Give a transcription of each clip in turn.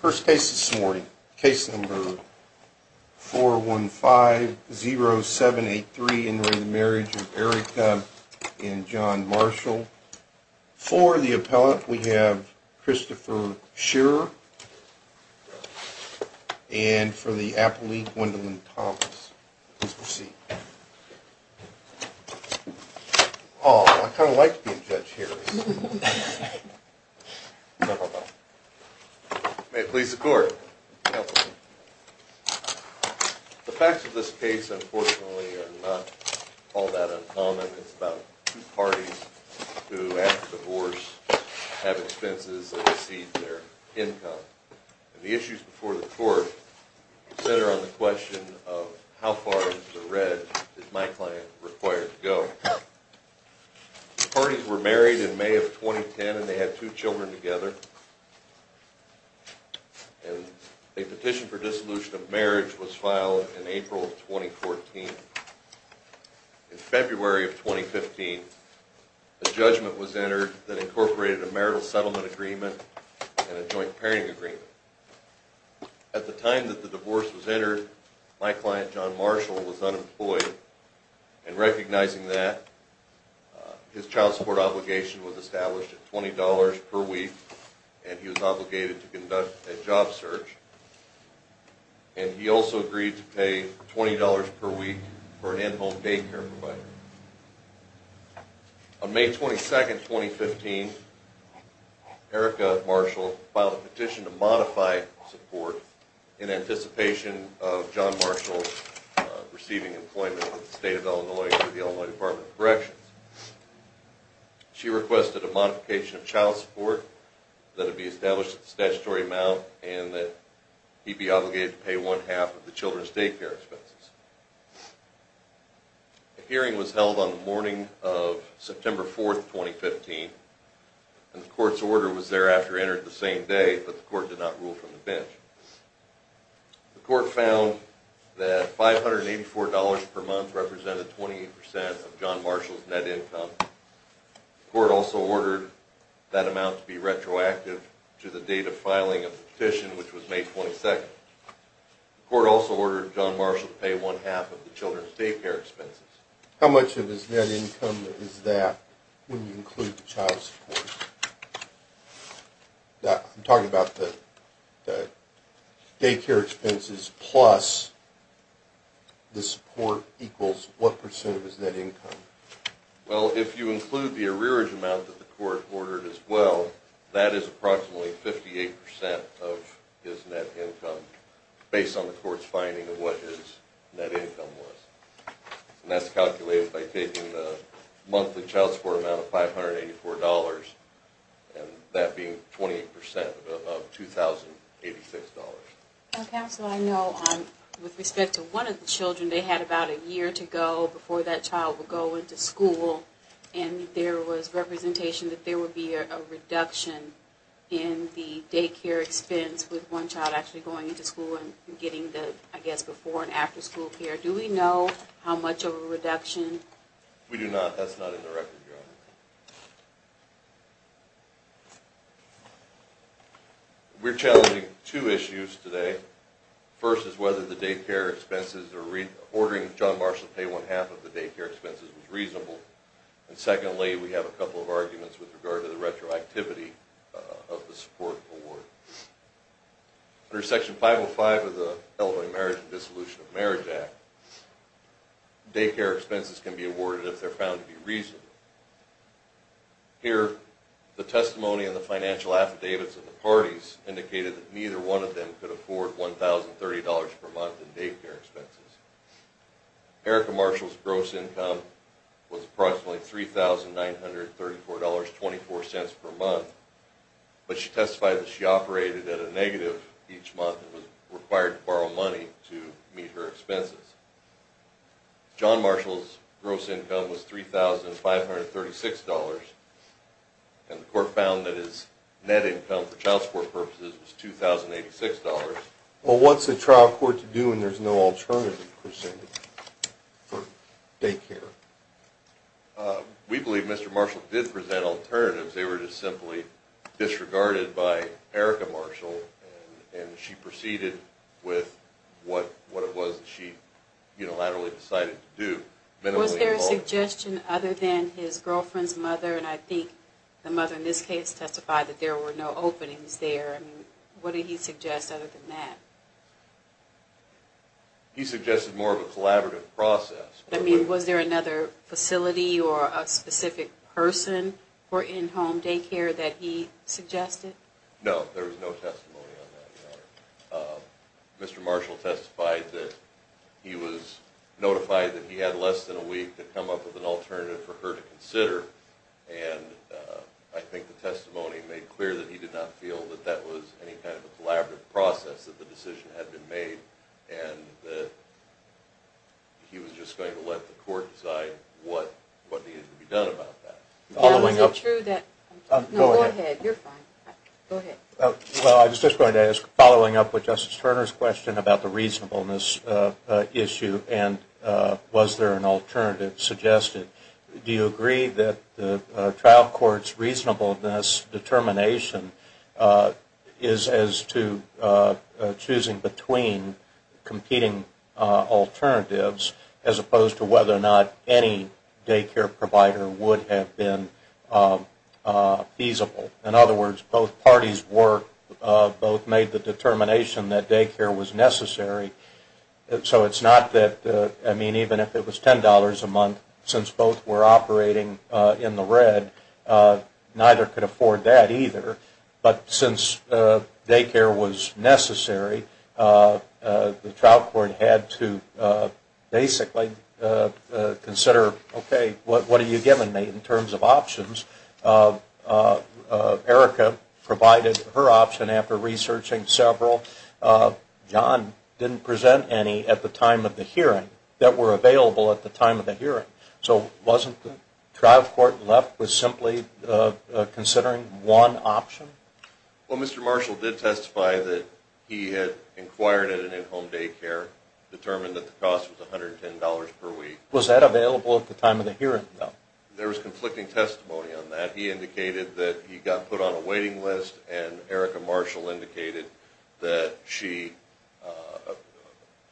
First case this morning, case number 415-0783 in re Marriage of Erica and John Marshall, for the appellate we have Christopher Shearer, and for the appellate, Wendell Marshall. Please proceed. Oh, I kind of like being judge here. Counselor. The facts of this case, unfortunately, are not all that uncommon. It's about two parties who, after divorce, have expenses that exceed their income. And the issues before the court center on the question of how far into the red is my client required to go. The parties were married in May of 2010, and they had two children together. And a petition for dissolution of marriage was filed in April of 2014. In February of 2015, a judgment was entered that incorporated a marital settlement agreement and a joint parenting agreement. At the time that the divorce was entered, my client, John Marshall, was unemployed. And recognizing that, his child support obligation was established at $20 per week, and he was obligated to conduct a job search. And he also agreed to pay $20 per week for an in-home daycare provider. On May 22, 2015, Erica Marshall filed a petition to modify support in anticipation of John Marshall receiving employment with the state of Illinois through the Illinois Department of Corrections. She requested a modification of child support that would be established at the statutory amount, and that he be obligated to pay one-half of the children's daycare expenses. A hearing was held on the morning of September 4, 2015, and the court's order was thereafter entered the same day, but the court did not rule from the bench. The court found that $584 per month represented 28% of John Marshall's net income. The court also ordered that amount to be retroactive to the date of filing of the petition, which was May 22. The court also ordered John Marshall to pay one-half of the children's daycare expenses. How much of his net income is that when you include the child support? I'm talking about the daycare expenses plus the support equals what percent of his net income? Well, if you include the arrearage amount that the court ordered as well, that is approximately 58% of his net income, based on the court's finding of what his net income was. And that's calculated by taking the monthly child support amount of $584, and that being 28% of $2,086. Counsel, I know with respect to one of the children, they had about a year to go before that child would go into school, and there was representation that there would be a reduction in the daycare expense with one child actually going into school and getting the, I guess, before and after school care. Do we know how much of a reduction? We do not. That's not in the record, Your Honor. We're challenging two issues today. First is whether the daycare expenses or ordering John Marshall to pay one-half of the daycare expenses was reasonable. And secondly, we have a couple of arguments with regard to the retroactivity of the support award. Under Section 505 of the Illinois Marriage and Dissolution of Marriage Act, daycare expenses can be awarded if they're found to be reasonable. Here, the testimony in the financial affidavits of the parties indicated that neither one of them could afford $1,030 per month in daycare expenses. Erica Marshall's gross income was approximately $3,934.24 per month, but she testified that she operated at a negative each month and was required to borrow money to meet her expenses. John Marshall's gross income was $3,536, and the court found that his net income for child support purposes was $2,086. Well, what's a trial court to do when there's no alternative presented for daycare? We believe Mr. Marshall did present alternatives. They were just simply disregarded by Erica Marshall, and she proceeded with what it was that she unilaterally decided to do. Was there a suggestion other than his girlfriend's mother, and I think the mother in this case testified that there were no openings there. What did he suggest other than that? He suggested more of a collaborative process. Was there another facility or a specific person for in-home daycare that he suggested? No, there was no testimony on that. Mr. Marshall testified that he was notified that he had less than a week to come up with an alternative for her to consider, and I think the testimony made clear that he did not feel that that was any kind of a collaborative process that the decision had been made, and that he was just going to let the court decide what needed to be done about that. Go ahead, you're fine. Well, I was just going to ask, following up with Justice Turner's question about the reasonableness issue, and was there an alternative suggested, do you agree that the trial court's reasonableness determination is as to choosing between competing alternatives as opposed to whether or not any daycare provider would have been a reasonable alternative? In other words, both parties were, both made the determination that daycare was necessary, so it's not that, I mean, even if it was $10 a month, since both were operating in the red, neither could afford that either, but since daycare was necessary, the trial court had to basically consider, okay, what are you giving me in terms of options? Erica provided her option after researching several. John didn't present any at the time of the hearing that were available at the time of the hearing, so wasn't the trial court left with simply considering one option? Well, Mr. Marshall did testify that he had inquired at an in-home daycare, determined that the cost was $110 per week. Was that available at the time of the hearing, though? There was conflicting testimony on that. He indicated that he got put on a waiting list, and Erica Marshall indicated that she,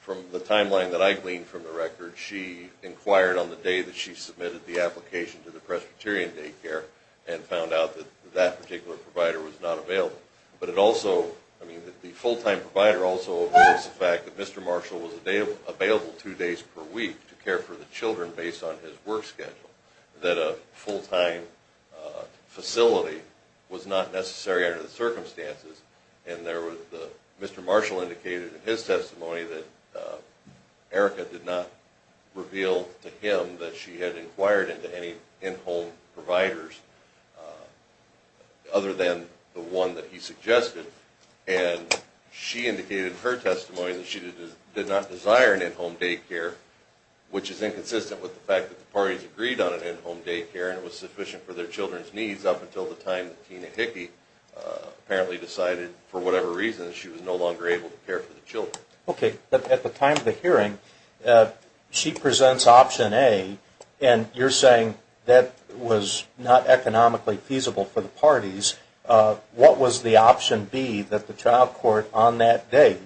from the timeline that I gleaned from the record, she inquired on the day that she submitted the application to the Presbyterian daycare and found out that that particular provider was not available. But it also, I mean, the full-time provider also admits the fact that Mr. Marshall was available two days per week to care for the children based on his work schedule, that a full-time facility was not necessary under the circumstances. And Mr. Marshall indicated in his testimony that Erica did not reveal to him that she had inquired into any in-home providers other than the one that he suggested, and she indicated in her testimony that she did not desire an in-home daycare, which is inconsistent with the fact that the parties agreed on an in-home daycare and it was sufficient for their children's needs up until the time that Tina Hickey apparently decided, for whatever reason, that she was no longer able to care for the children. Okay, but at the time of the hearing, she presents option A, and you're saying that was not economically feasible for the parties. What was the option B that the trial court on that day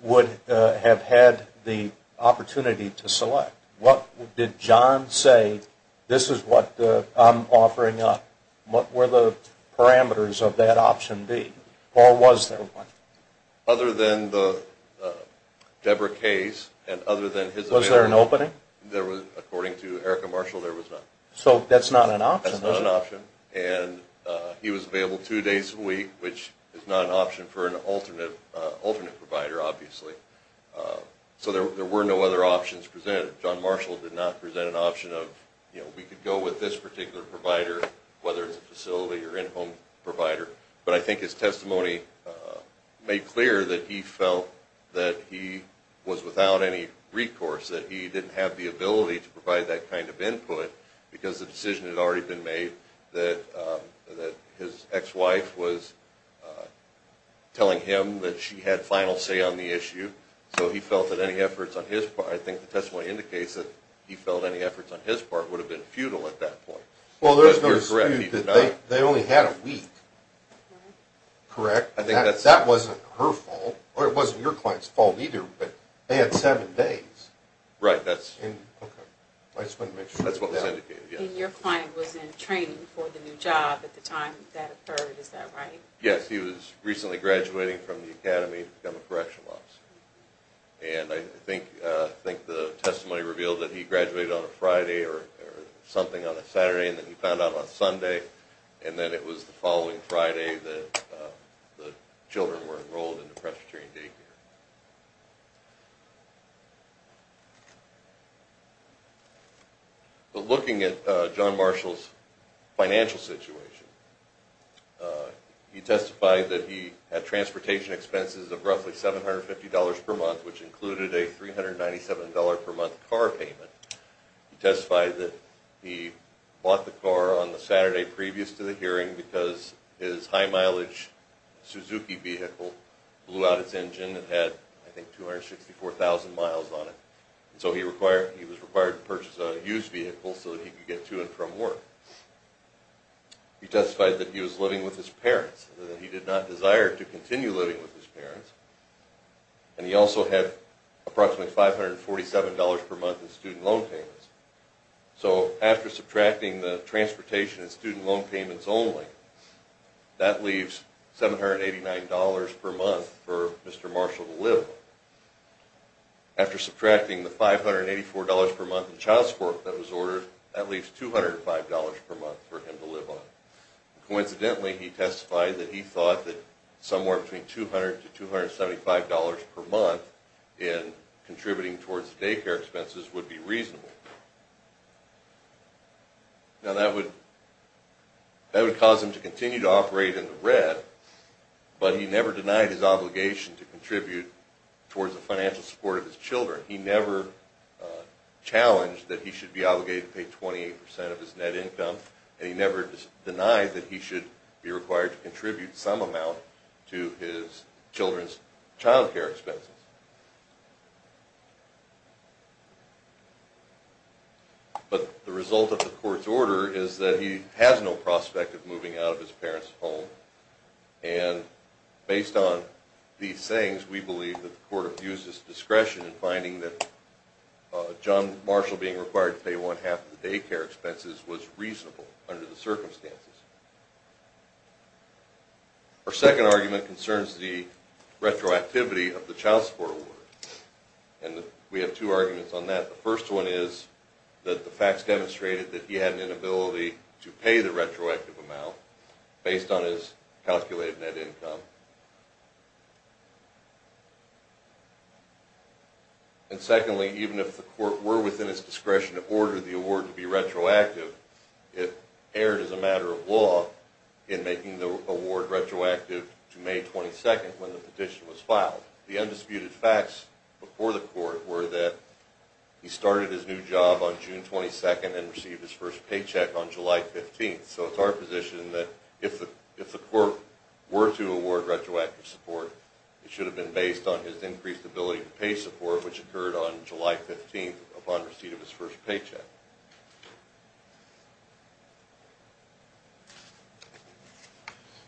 would have had the opportunity to select? What did John say, this is what I'm offering up, what were the parameters of that option B, or was there one? Other than the Deborah case, and other than his... Was there an opening? According to Erica Marshall, there was none. So that's not an option, is it? That's not an option, and he was available two days a week, which is not an option for an alternate provider, obviously. So there were no other options presented. John Marshall did not present an option of, you know, we could go with this particular provider, whether it's a facility or in-home provider. But I think his testimony made clear that he felt that he was without any recourse, that he didn't have the ability to provide that kind of input because the decision had already been made that his ex-wife was telling him that she had final say on the issue. So he felt that any efforts on his part, I think the testimony indicates that he felt any efforts on his part would have been futile at that point. Well, there's no dispute that they only had a week, correct? I think that's... That wasn't her fault, or it wasn't your client's fault either, but they had seven days. Right, that's... Okay, I just wanted to make sure. That's what was indicated, yes. And your client was in training for the new job at the time that occurred, is that right? Yes, he was recently graduating from the academy to become a correctional officer. And I think the testimony revealed that he graduated on a Friday or something on a Saturday, and then he found out on a Sunday, and then it was the following Friday that the children were enrolled into Presbyterian day care. But looking at John Marshall's financial situation, he testified that he had transportation expenses of roughly $750 per month, which included a $397 per month car payment. He testified that he bought the car on the Saturday previous to the hearing because his high mileage Suzuki vehicle blew out its engine and had, I think, 264,000 miles on it. So he was required to purchase a used vehicle so that he could get to and from work. He testified that he was living with his parents, and that he did not desire to continue living with his parents. And he also had approximately $547 per month in student loan payments. So after subtracting the transportation and student loan payments only, that leaves $789 per month for Mr. Marshall to live on. After subtracting the $584 per month in child support that was ordered, that leaves $205 per month for him to live on. Coincidentally, he testified that he thought that somewhere between $200 to $275 per month in contributing towards day care expenses would be reasonable. Now that would cause him to continue to operate in the red, but he never denied his obligation to contribute towards the financial support of his children. He never challenged that he should be obligated to pay 28% of his net income, and he never denied that he should be required to contribute some amount to his children's child care expenses. But the result of the court's order is that he has no prospect of moving out of his parents' home. And based on these sayings, we believe that the court abused its discretion in finding that John Marshall being required to pay one-half of the day care expenses was reasonable under the circumstances. Our second argument concerns the retroactivity of the child support order. And we have two arguments on that. The first one is that the facts demonstrated that he had an inability to pay the retroactive amount based on his calculated net income. And secondly, even if the court were within its discretion to order the award to be retroactive, it erred as a matter of law in making the award retroactive to May 22nd when the petition was filed. The undisputed facts before the court were that he started his new job on June 22nd and received his first paycheck on July 15th. So it's our position that if the court were to award retroactive support, it should have been based on his increased ability to pay support, which occurred on July 15th upon receipt of his first paycheck.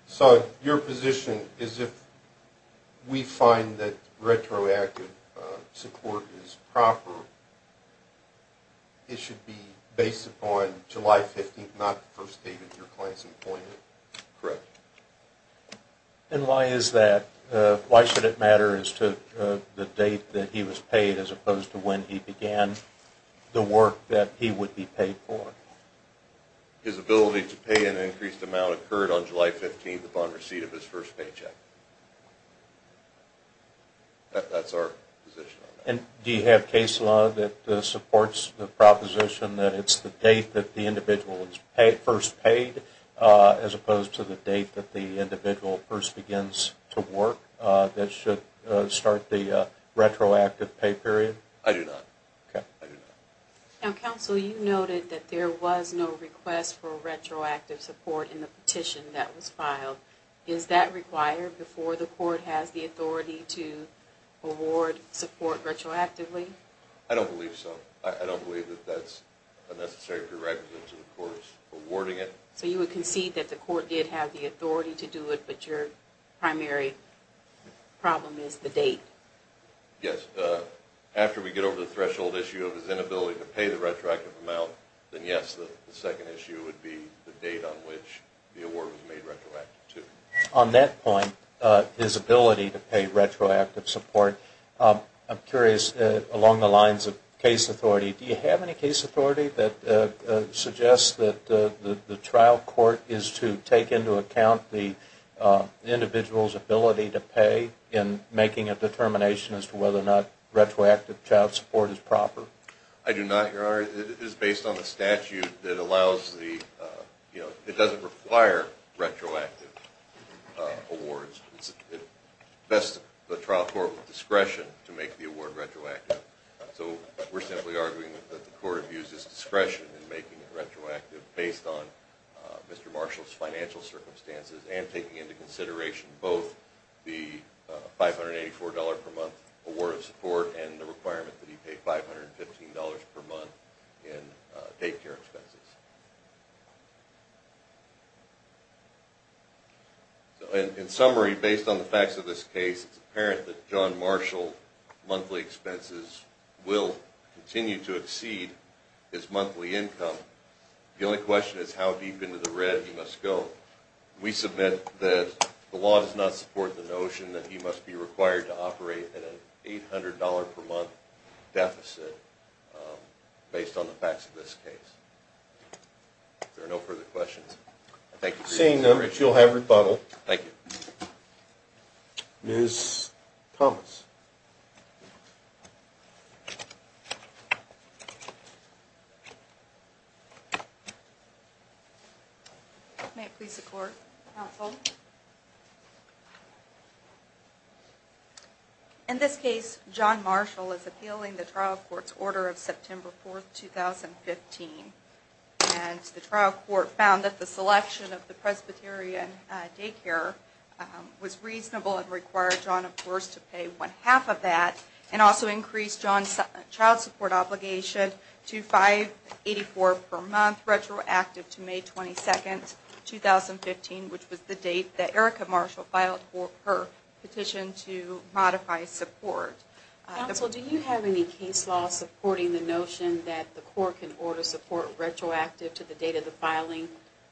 So your position is if we find that retroactive support is proper, it should be based upon July 15th, not the first date of your client's employment, correct? And why is that? Why should it matter as to the date that he was paid as opposed to when he began the work that he would be paid for? His ability to pay an increased amount occurred on July 15th upon receipt of his first paycheck. That's our position on that. And do you have case law that supports the proposition that it's the date that the individual is first paid as opposed to the date that the individual first begins to work that should start the retroactive pay period? I do not. Now, counsel, you noted that there was no request for retroactive support in the petition that was filed. Is that required before the court has the authority to award support retroactively? I don't believe so. I don't believe that that's a necessary prerequisite to the court awarding it. So you would concede that the court did have the authority to do it, but your primary problem is the date? Yes. After we get over the threshold issue of his inability to pay the retroactive amount, then yes, the second issue would be the date on which the award was made retroactive to. On that point, his ability to pay retroactive support, I'm curious, along the lines of case authority, do you have any case authority that suggests that the trial court is to take into account the individual's ability to pay in making a determination as to whether or not retroactive child support is proper? I do not, Your Honor. It is based on the statute that allows the, you know, it doesn't require retroactive awards. It's best for the trial court with discretion to make the award retroactive, so we're simply arguing that the court abuses discretion in making it retroactive based on Mr. Marshall's financial circumstances and taking into consideration both the $584 per month award of support and the requirement that he pay $515 per month in daycare expenses. In summary, based on the facts of this case, it's apparent that John Marshall's monthly expenses will continue to exceed his monthly income. The only question is how deep into the red he must go. We submit that the law does not support the notion that he must be required to operate at an $800 per month deficit based on the facts of this case. If there are no further questions, I thank you for your time. Seeing none, Rich, you'll have rebuttal. Thank you. Ms. Thomas. May it please the Court. Counsel. In this case, John Marshall is appealing the trial court's order of September 4, 2015, and the trial court found that the selection of the Presbyterian daycare was reasonable and required John, of course, to pay one-half of that and also increase John's child support obligation to $584 per month retroactive to May 22, 2015, which was the date that Erica Marshall filed her petition to modify support. Counsel, do you have any case law supporting the notion that the Court can order support retroactive to the date of the filing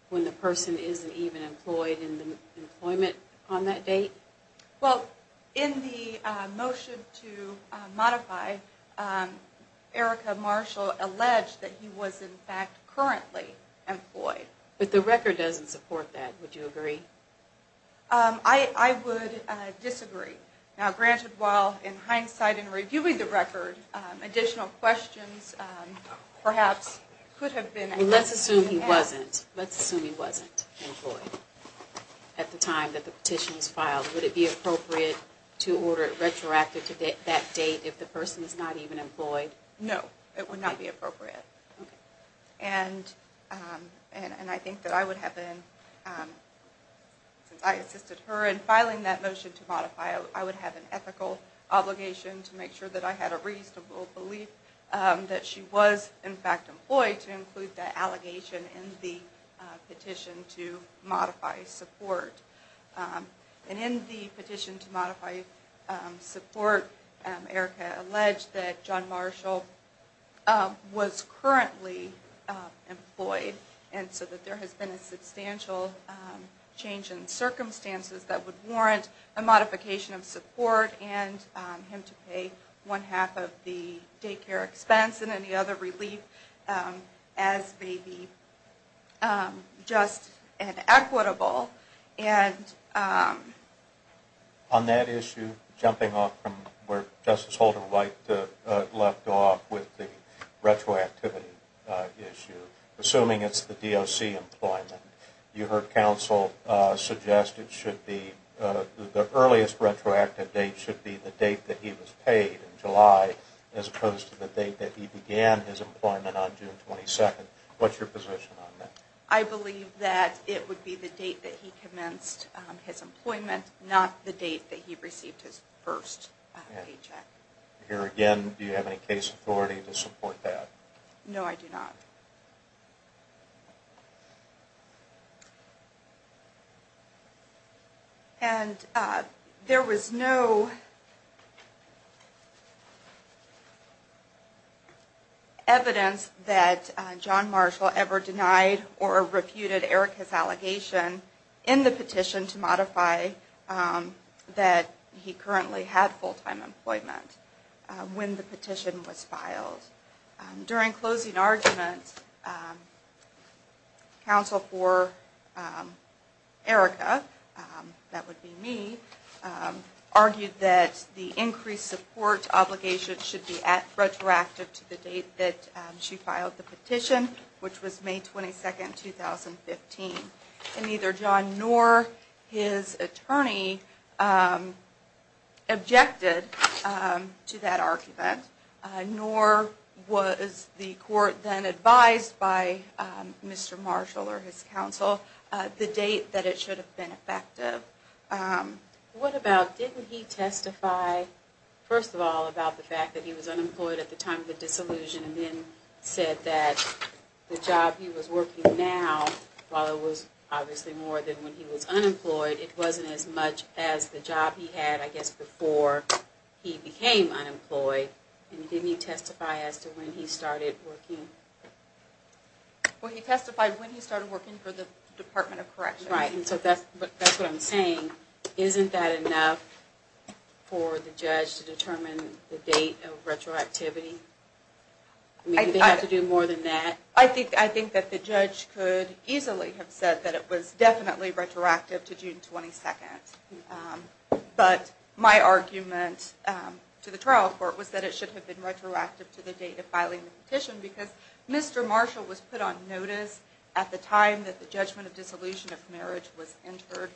when the person isn't even employed in the employment on that date? Well, in the motion to modify, Erica Marshall alleged that he was, in fact, currently employed. But the record doesn't support that. Would you agree? I would disagree. Now, granted, while in hindsight in reviewing the record, additional questions perhaps could have been asked. Let's assume he wasn't. Let's assume he wasn't employed at the time that the petition was filed. Would it be appropriate to order it retroactive to that date if the person is not even employed? And I think that I would have been, since I assisted her in filing that motion to modify, I would have an ethical obligation to make sure that I had a reasonable belief that she was, in fact, employed to include that allegation in the petition to modify support. And in the petition to modify support, Erica alleged that John Marshall was currently employed and so that there has been a substantial change in circumstances that would warrant a modification of support and him to pay one half of the daycare expense and any other relief as may be just and equitable. On that issue, jumping off from where Justice Holder-White left off with the retroactivity issue, assuming it's the DOC employment, you heard counsel suggest it should be, the earliest retroactive date should be the date that he was paid in July as opposed to the date that he began his employment on June 22nd. What's your position on that? I believe that it would be the date that he commenced his employment, not the date that he received his first paycheck. Here again, do you have any case authority to support that? No, I do not. And there was no evidence that John Marshall ever denied or refuted Erica's allegation in the petition to modify that he currently had full-time employment when the petition was filed. During closing arguments, counsel for Erica, that would be me, argued that the increased support obligation should be retroactive to the date that she filed the petition, which was May 22nd, 2015. And neither John nor his attorney objected to that argument, nor was the court then advised by Mr. Marshall or his counsel the date that it should have been effective. What about, didn't he testify, first of all, about the fact that he was unemployed at the time of the disillusion and then said that the job he was working now, while it was obviously more than when he was unemployed, it wasn't as much as the job he had, I guess, before he became unemployed. And didn't he testify as to when he started working? Well, he testified when he started working for the Department of Corrections. Right, and so that's what I'm saying. Isn't that enough for the judge to determine the date of retroactivity? Do they have to do more than that? I think that the judge could easily have said that it was definitely retroactive to June 22nd. But my argument to the trial court was that it should have been retroactive to the date of filing the petition because Mr. Marshall was put on notice at the time that the judgment of disillusion of marriage was entered,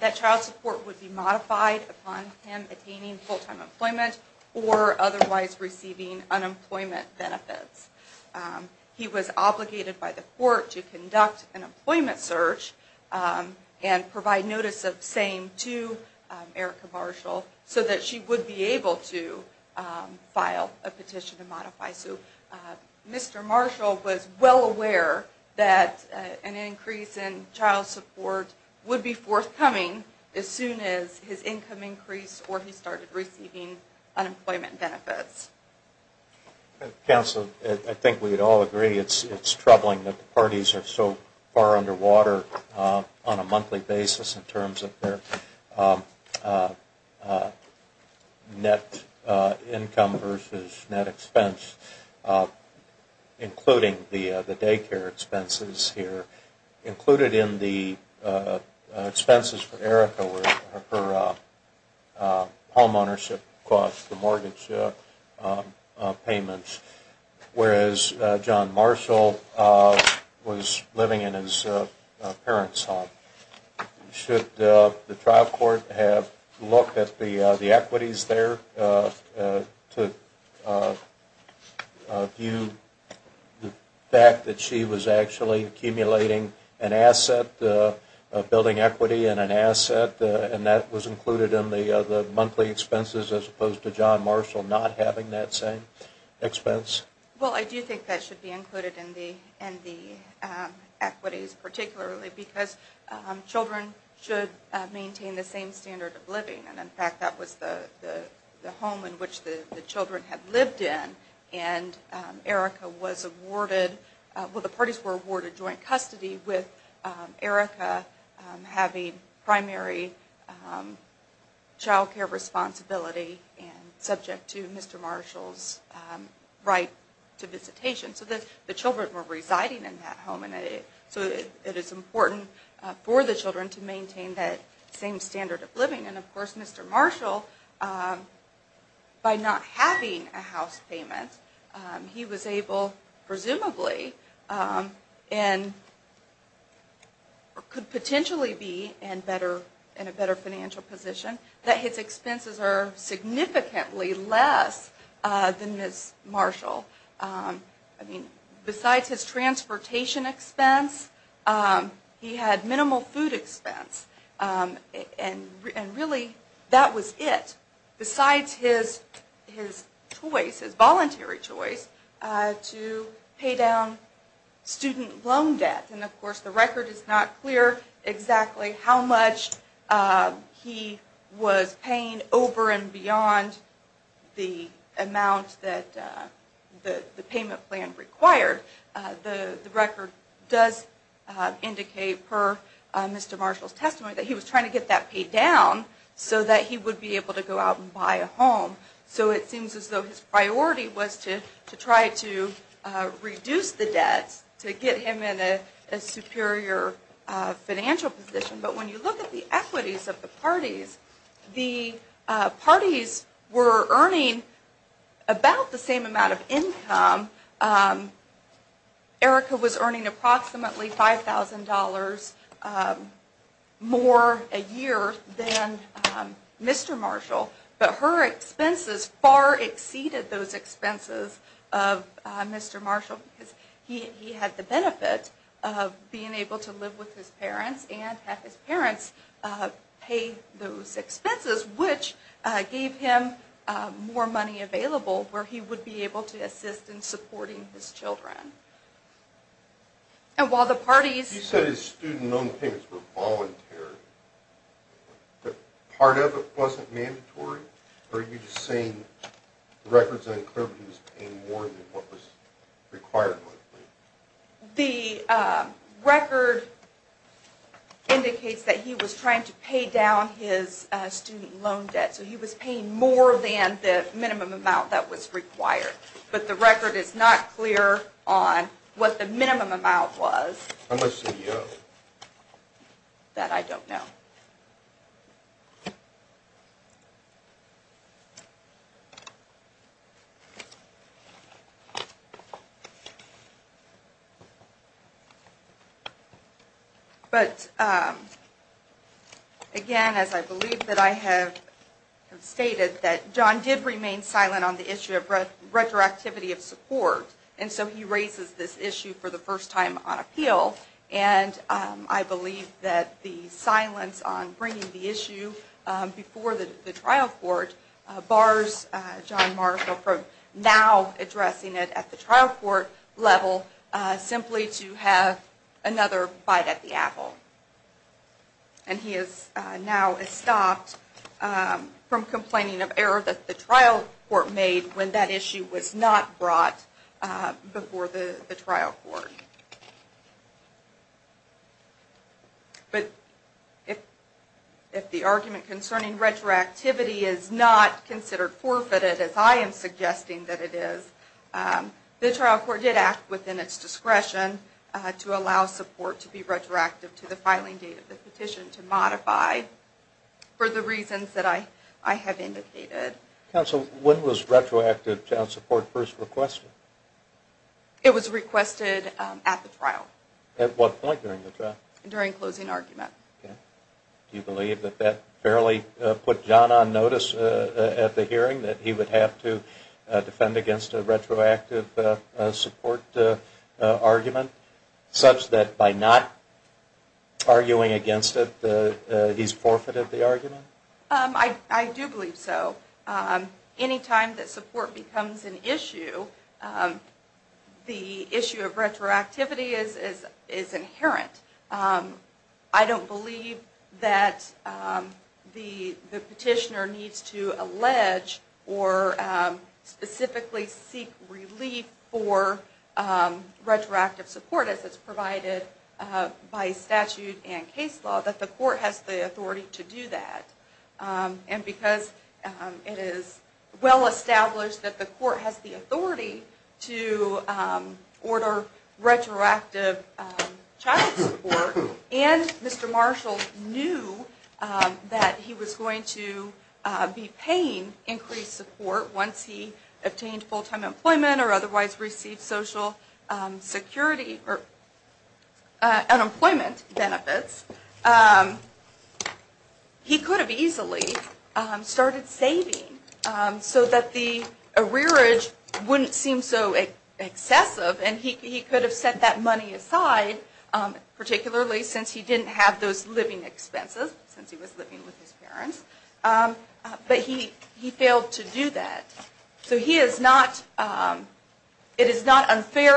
that child support would be modified upon him attaining full-time employment or otherwise receiving unemployment benefits. He was obligated by the court to conduct an employment search and provide notice of same to Erica Marshall so that she would be able to file a petition to modify. So Mr. Marshall was well aware that an increase in child support would be forthcoming as soon as his income increased or he started receiving unemployment benefits. Counsel, I think we would all agree it's troubling that the parties are so far underwater on a monthly basis in terms of their net income versus net expense, including the daycare expenses here. Included in the expenses for Erica were her home ownership costs, the mortgage payments, whereas John Marshall was living in his parents' home. Should the trial court have looked at the equities there to view the fact that she was actually accumulating income? An asset, building equity in an asset, and that was included in the monthly expenses as opposed to John Marshall not having that same expense? Well, I do think that should be included in the equities, particularly because children should maintain the same standard of living. And in fact, that was the home in which the children had lived in. And Erica was awarded, well the parties were awarded joint custody with Erica having primary child care responsibility and subject to Mr. Marshall's right to visitation. So the children were residing in that home and so it is important for the children to maintain that same standard of living. And of course, Mr. Marshall, by not having a house payment, he was able, presumably, and could potentially be in a better financial position, that his expenses are significantly less than Ms. Marshall. I mean, besides his transportation expense, he had minimal food expense. And really, that was it, besides his choice, his voluntary choice, to pay down student loan debt. And of course, the record is not clear exactly how much he was paying over and beyond the amount that the payment plan required. The record does indicate, per Mr. Marshall's testimony, that he was trying to get that paid down so that he would be able to go out and buy a home. So it seems as though his priority was to try to reduce the debts to get him in a superior financial position. But when you look at the equities of the parties, the parties were earning about the same amount of income, Erica was earning approximately $5,000 more a year than Mr. Marshall, but her expenses far exceeded those expenses of Mr. Marshall because he had the benefit of being able to live with his parents and have his parents pay those expenses, which gave him more money available where he would be able to assist in supporting his children. You said his student loan payments were voluntary, but part of it wasn't mandatory? Or are you saying the record is unclear that he was paying more than what was required? The record indicates that he was trying to pay down his student loan debt, so he was paying more than the minimum amount that was required. But the record is not clear on what the minimum amount was that I don't know. But again, as I believe that I have stated, that John did remain silent on the issue of retroactivity of support, and so he raises this issue for the first time on appeal, and I believe that the silence on bringing the issue before the trial court bars John Marshall from now addressing it at the trial court level simply to have another bite at the apple. And he is now stopped from complaining of error that the trial court made when that issue was not brought before the trial court. But if the argument concerning retroactivity is not considered forfeited, as I am suggesting that it is, the trial court did act within its discretion to allow support to be retroactive to the filing date of the petition to modify for the reasons that I have indicated. Counsel, when was retroactive child support first requested? It was requested at the trial. At what point during the trial? During closing argument. Do you believe that that fairly put John on notice at the hearing, that he would have to defend against a retroactive support argument, such that by not arguing against it, he's forfeited the argument? I do believe so. Anytime that support becomes an issue, the issue of retroactivity is inherent. I don't believe that the petitioner needs to allege or specifically seek relief for retroactive support. As it's provided by statute and case law, that the court has the authority to do that. And because it is well established that the court has the authority to order retroactive child support, and Mr. Marshall knew that he was going to be paying increased support once he obtained full-time employment or otherwise received social security or unemployment benefits, he could have easily started saving so that the arrearage wouldn't seem so excessive. And he could have set that money aside, particularly since he didn't have those living expenses, since he was living with his parents, but he failed to do that. So it is not unfair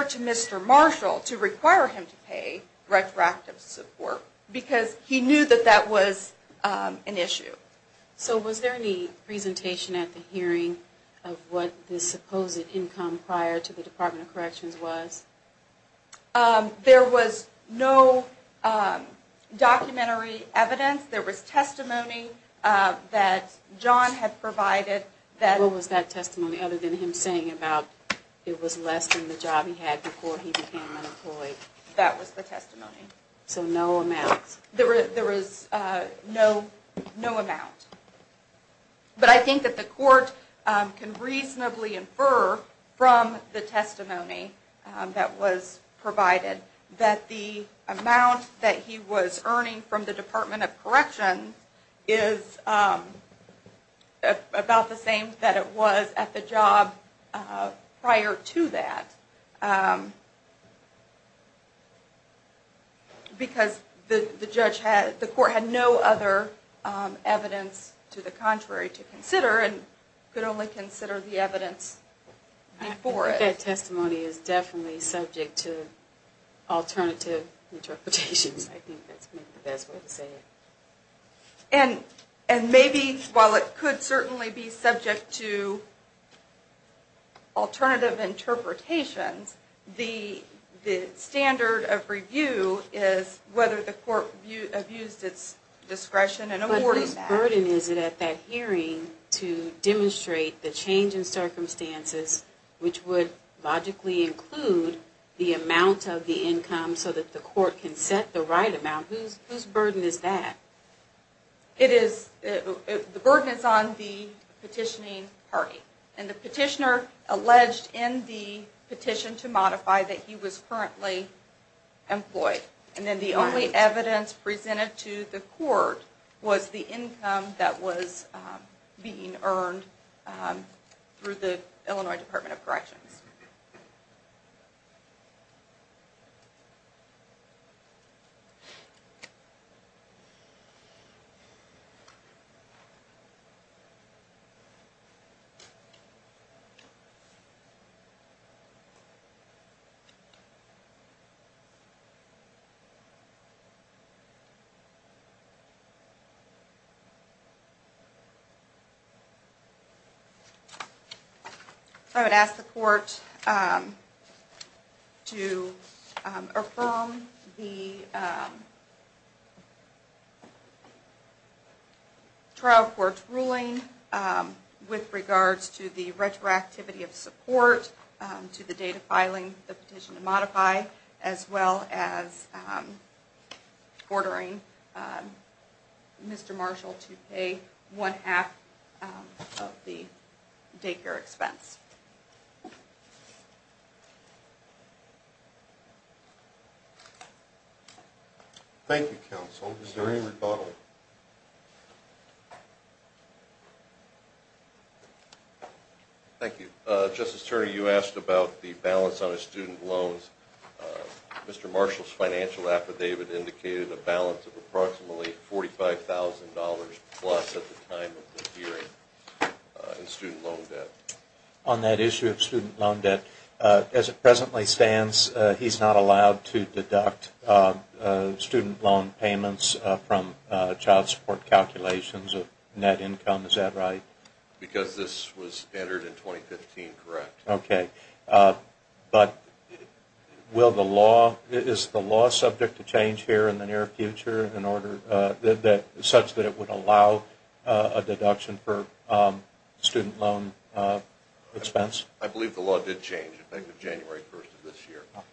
to Mr. Marshall to require him to pay retroactive support, because he knew that that was an issue. So was there any presentation at the hearing of what the supposed income prior to the Department of Corrections was? There was no documentary evidence. There was testimony that John had provided. What was that testimony other than him saying that it was less than the job he had before he became unemployed? That was the testimony. There was no amount. But I think that the court can reasonably infer from the testimony that was provided that the amount that he was earning from the Department of Corrections is about the same that it was at the job prior to that, because the court had no other evidence to the contrary to consider, and could only consider the evidence before it. I think that testimony is definitely subject to alternative interpretations. I think that's the best way to say it. And maybe while it could certainly be subject to alternative interpretations, the standard of review is whether the court abused its discretion in awarding that. But whose burden is it at that hearing to demonstrate the change in circumstances, which would logically include the amount of the income so that the court can set the right amount? Whose burden is that? The burden is on the petitioning party. And the petitioner alleged in the petition to modify that he was currently employed. And then the only evidence presented to the court was the income that was being earned through the Illinois Department of Corrections. So I would ask the court to affirm the trial court's ruling with regards to the retroactivity of support, to the date of filing the petition to modify, as well as ordering Mr. Marshall to pay one half of the daycare expense. Thank you, counsel. Is there any rebuttal? Thank you. Justice Turner, you asked about the balance on his student loans. Mr. Marshall's financial affidavit indicated a balance of approximately $145,000 plus at the time of the hearing in student loan debt. On that issue of student loan debt, as it presently stands, he's not allowed to deduct student loan payments from child support calculations of net income. Is that right? Because this was entered in 2015, correct. Okay. But is the law subject to change here in the near future such that it would allow a deduction for student loan expense? I believe the law did change. I think the January 1st of this year. Okay.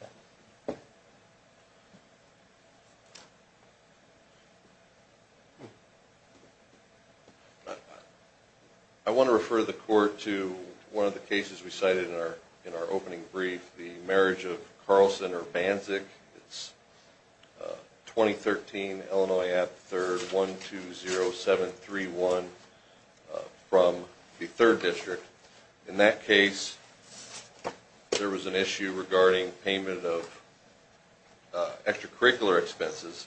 I want to refer the court to one of the cases we cited in our opening brief, the marriage of Carlson or Banzig. It's 2013, Illinois at 3rd, 120731 from the 3rd District. In that case, there was an issue regarding payment of extracurricular expenses.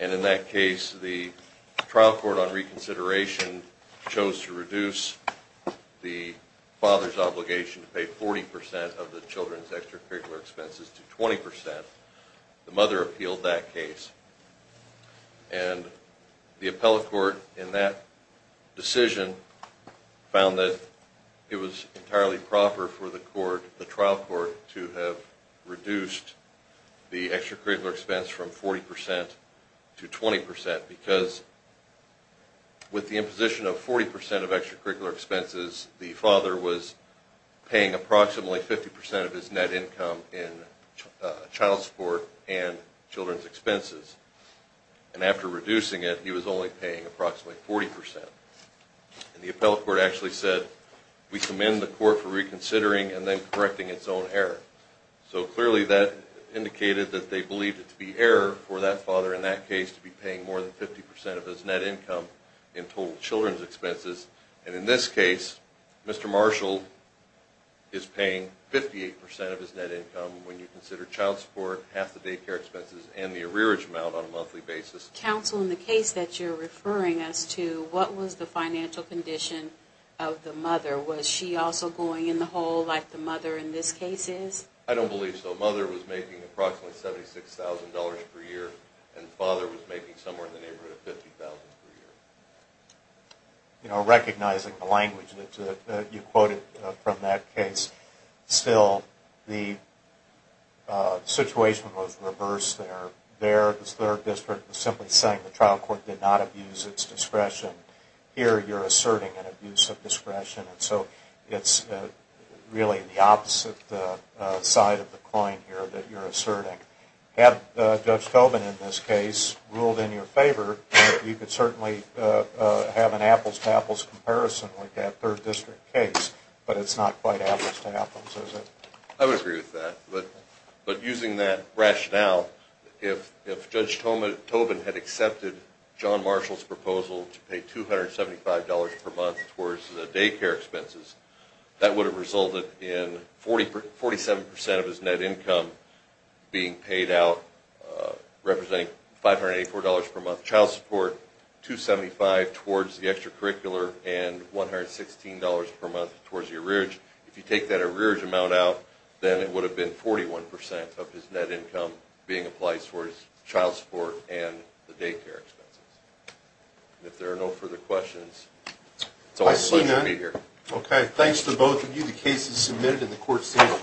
And in that case, the trial court on reconsideration chose to reduce the father's obligation to pay 40% of the children's extracurricular expenses to 20%. The mother appealed that case. And the appellate court in that case decided it was entirely proper for the trial court to have reduced the extracurricular expense from 40% to 20%. Because with the imposition of 40% of extracurricular expenses, the father was paying approximately 50% of his net income in child support and children's expenses. And after reducing it, he was only paying approximately 40%. And the appellate court actually said, we commend the court for reconsidering and then correcting its own error. So clearly that indicated that they believed it to be error for that father in that case to be paying more than 50% of his net income in total children's expenses. And in this case, Mr. Marshall is paying 58% of his net income when you consider child support, half the daycare expenses and the arrearage amount on a monthly basis. Counsel, in the case that you're referring us to, what was the financial condition of the mother? Was she also going in the hole like the mother in this case is? I don't believe so. Mother was making approximately $76,000 per year, and father was making somewhere in the neighborhood of $50,000 per year. You know, recognizing the language that you quoted from that case, still the situation was reversed there. The third district was simply saying the trial court did not abuse its discretion. Here you're asserting an abuse of discretion. So it's really the opposite side of the coin here that you're asserting. Had Judge Tobin in this case ruled in your favor, you could certainly have an apples-to-apples comparison with that third district case, but it's not quite apples-to-apples, is it? I would agree with that. But using that rationale, if Judge Tobin had accepted John Marshall's proposal to pay $275 per month towards the daycare expenses, that would have resulted in 47% of his net income being paid out representing $584 per month child support, $275 towards the extracurricular, and $116 per month towards the arrearage. If you take that arrearage amount out, then it would have been 41% of his net income being applied towards child support and the daycare expenses. If there are no further questions, it's always a pleasure to be here. Okay. Thanks to both of you. The case is submitted and the court seems to recess.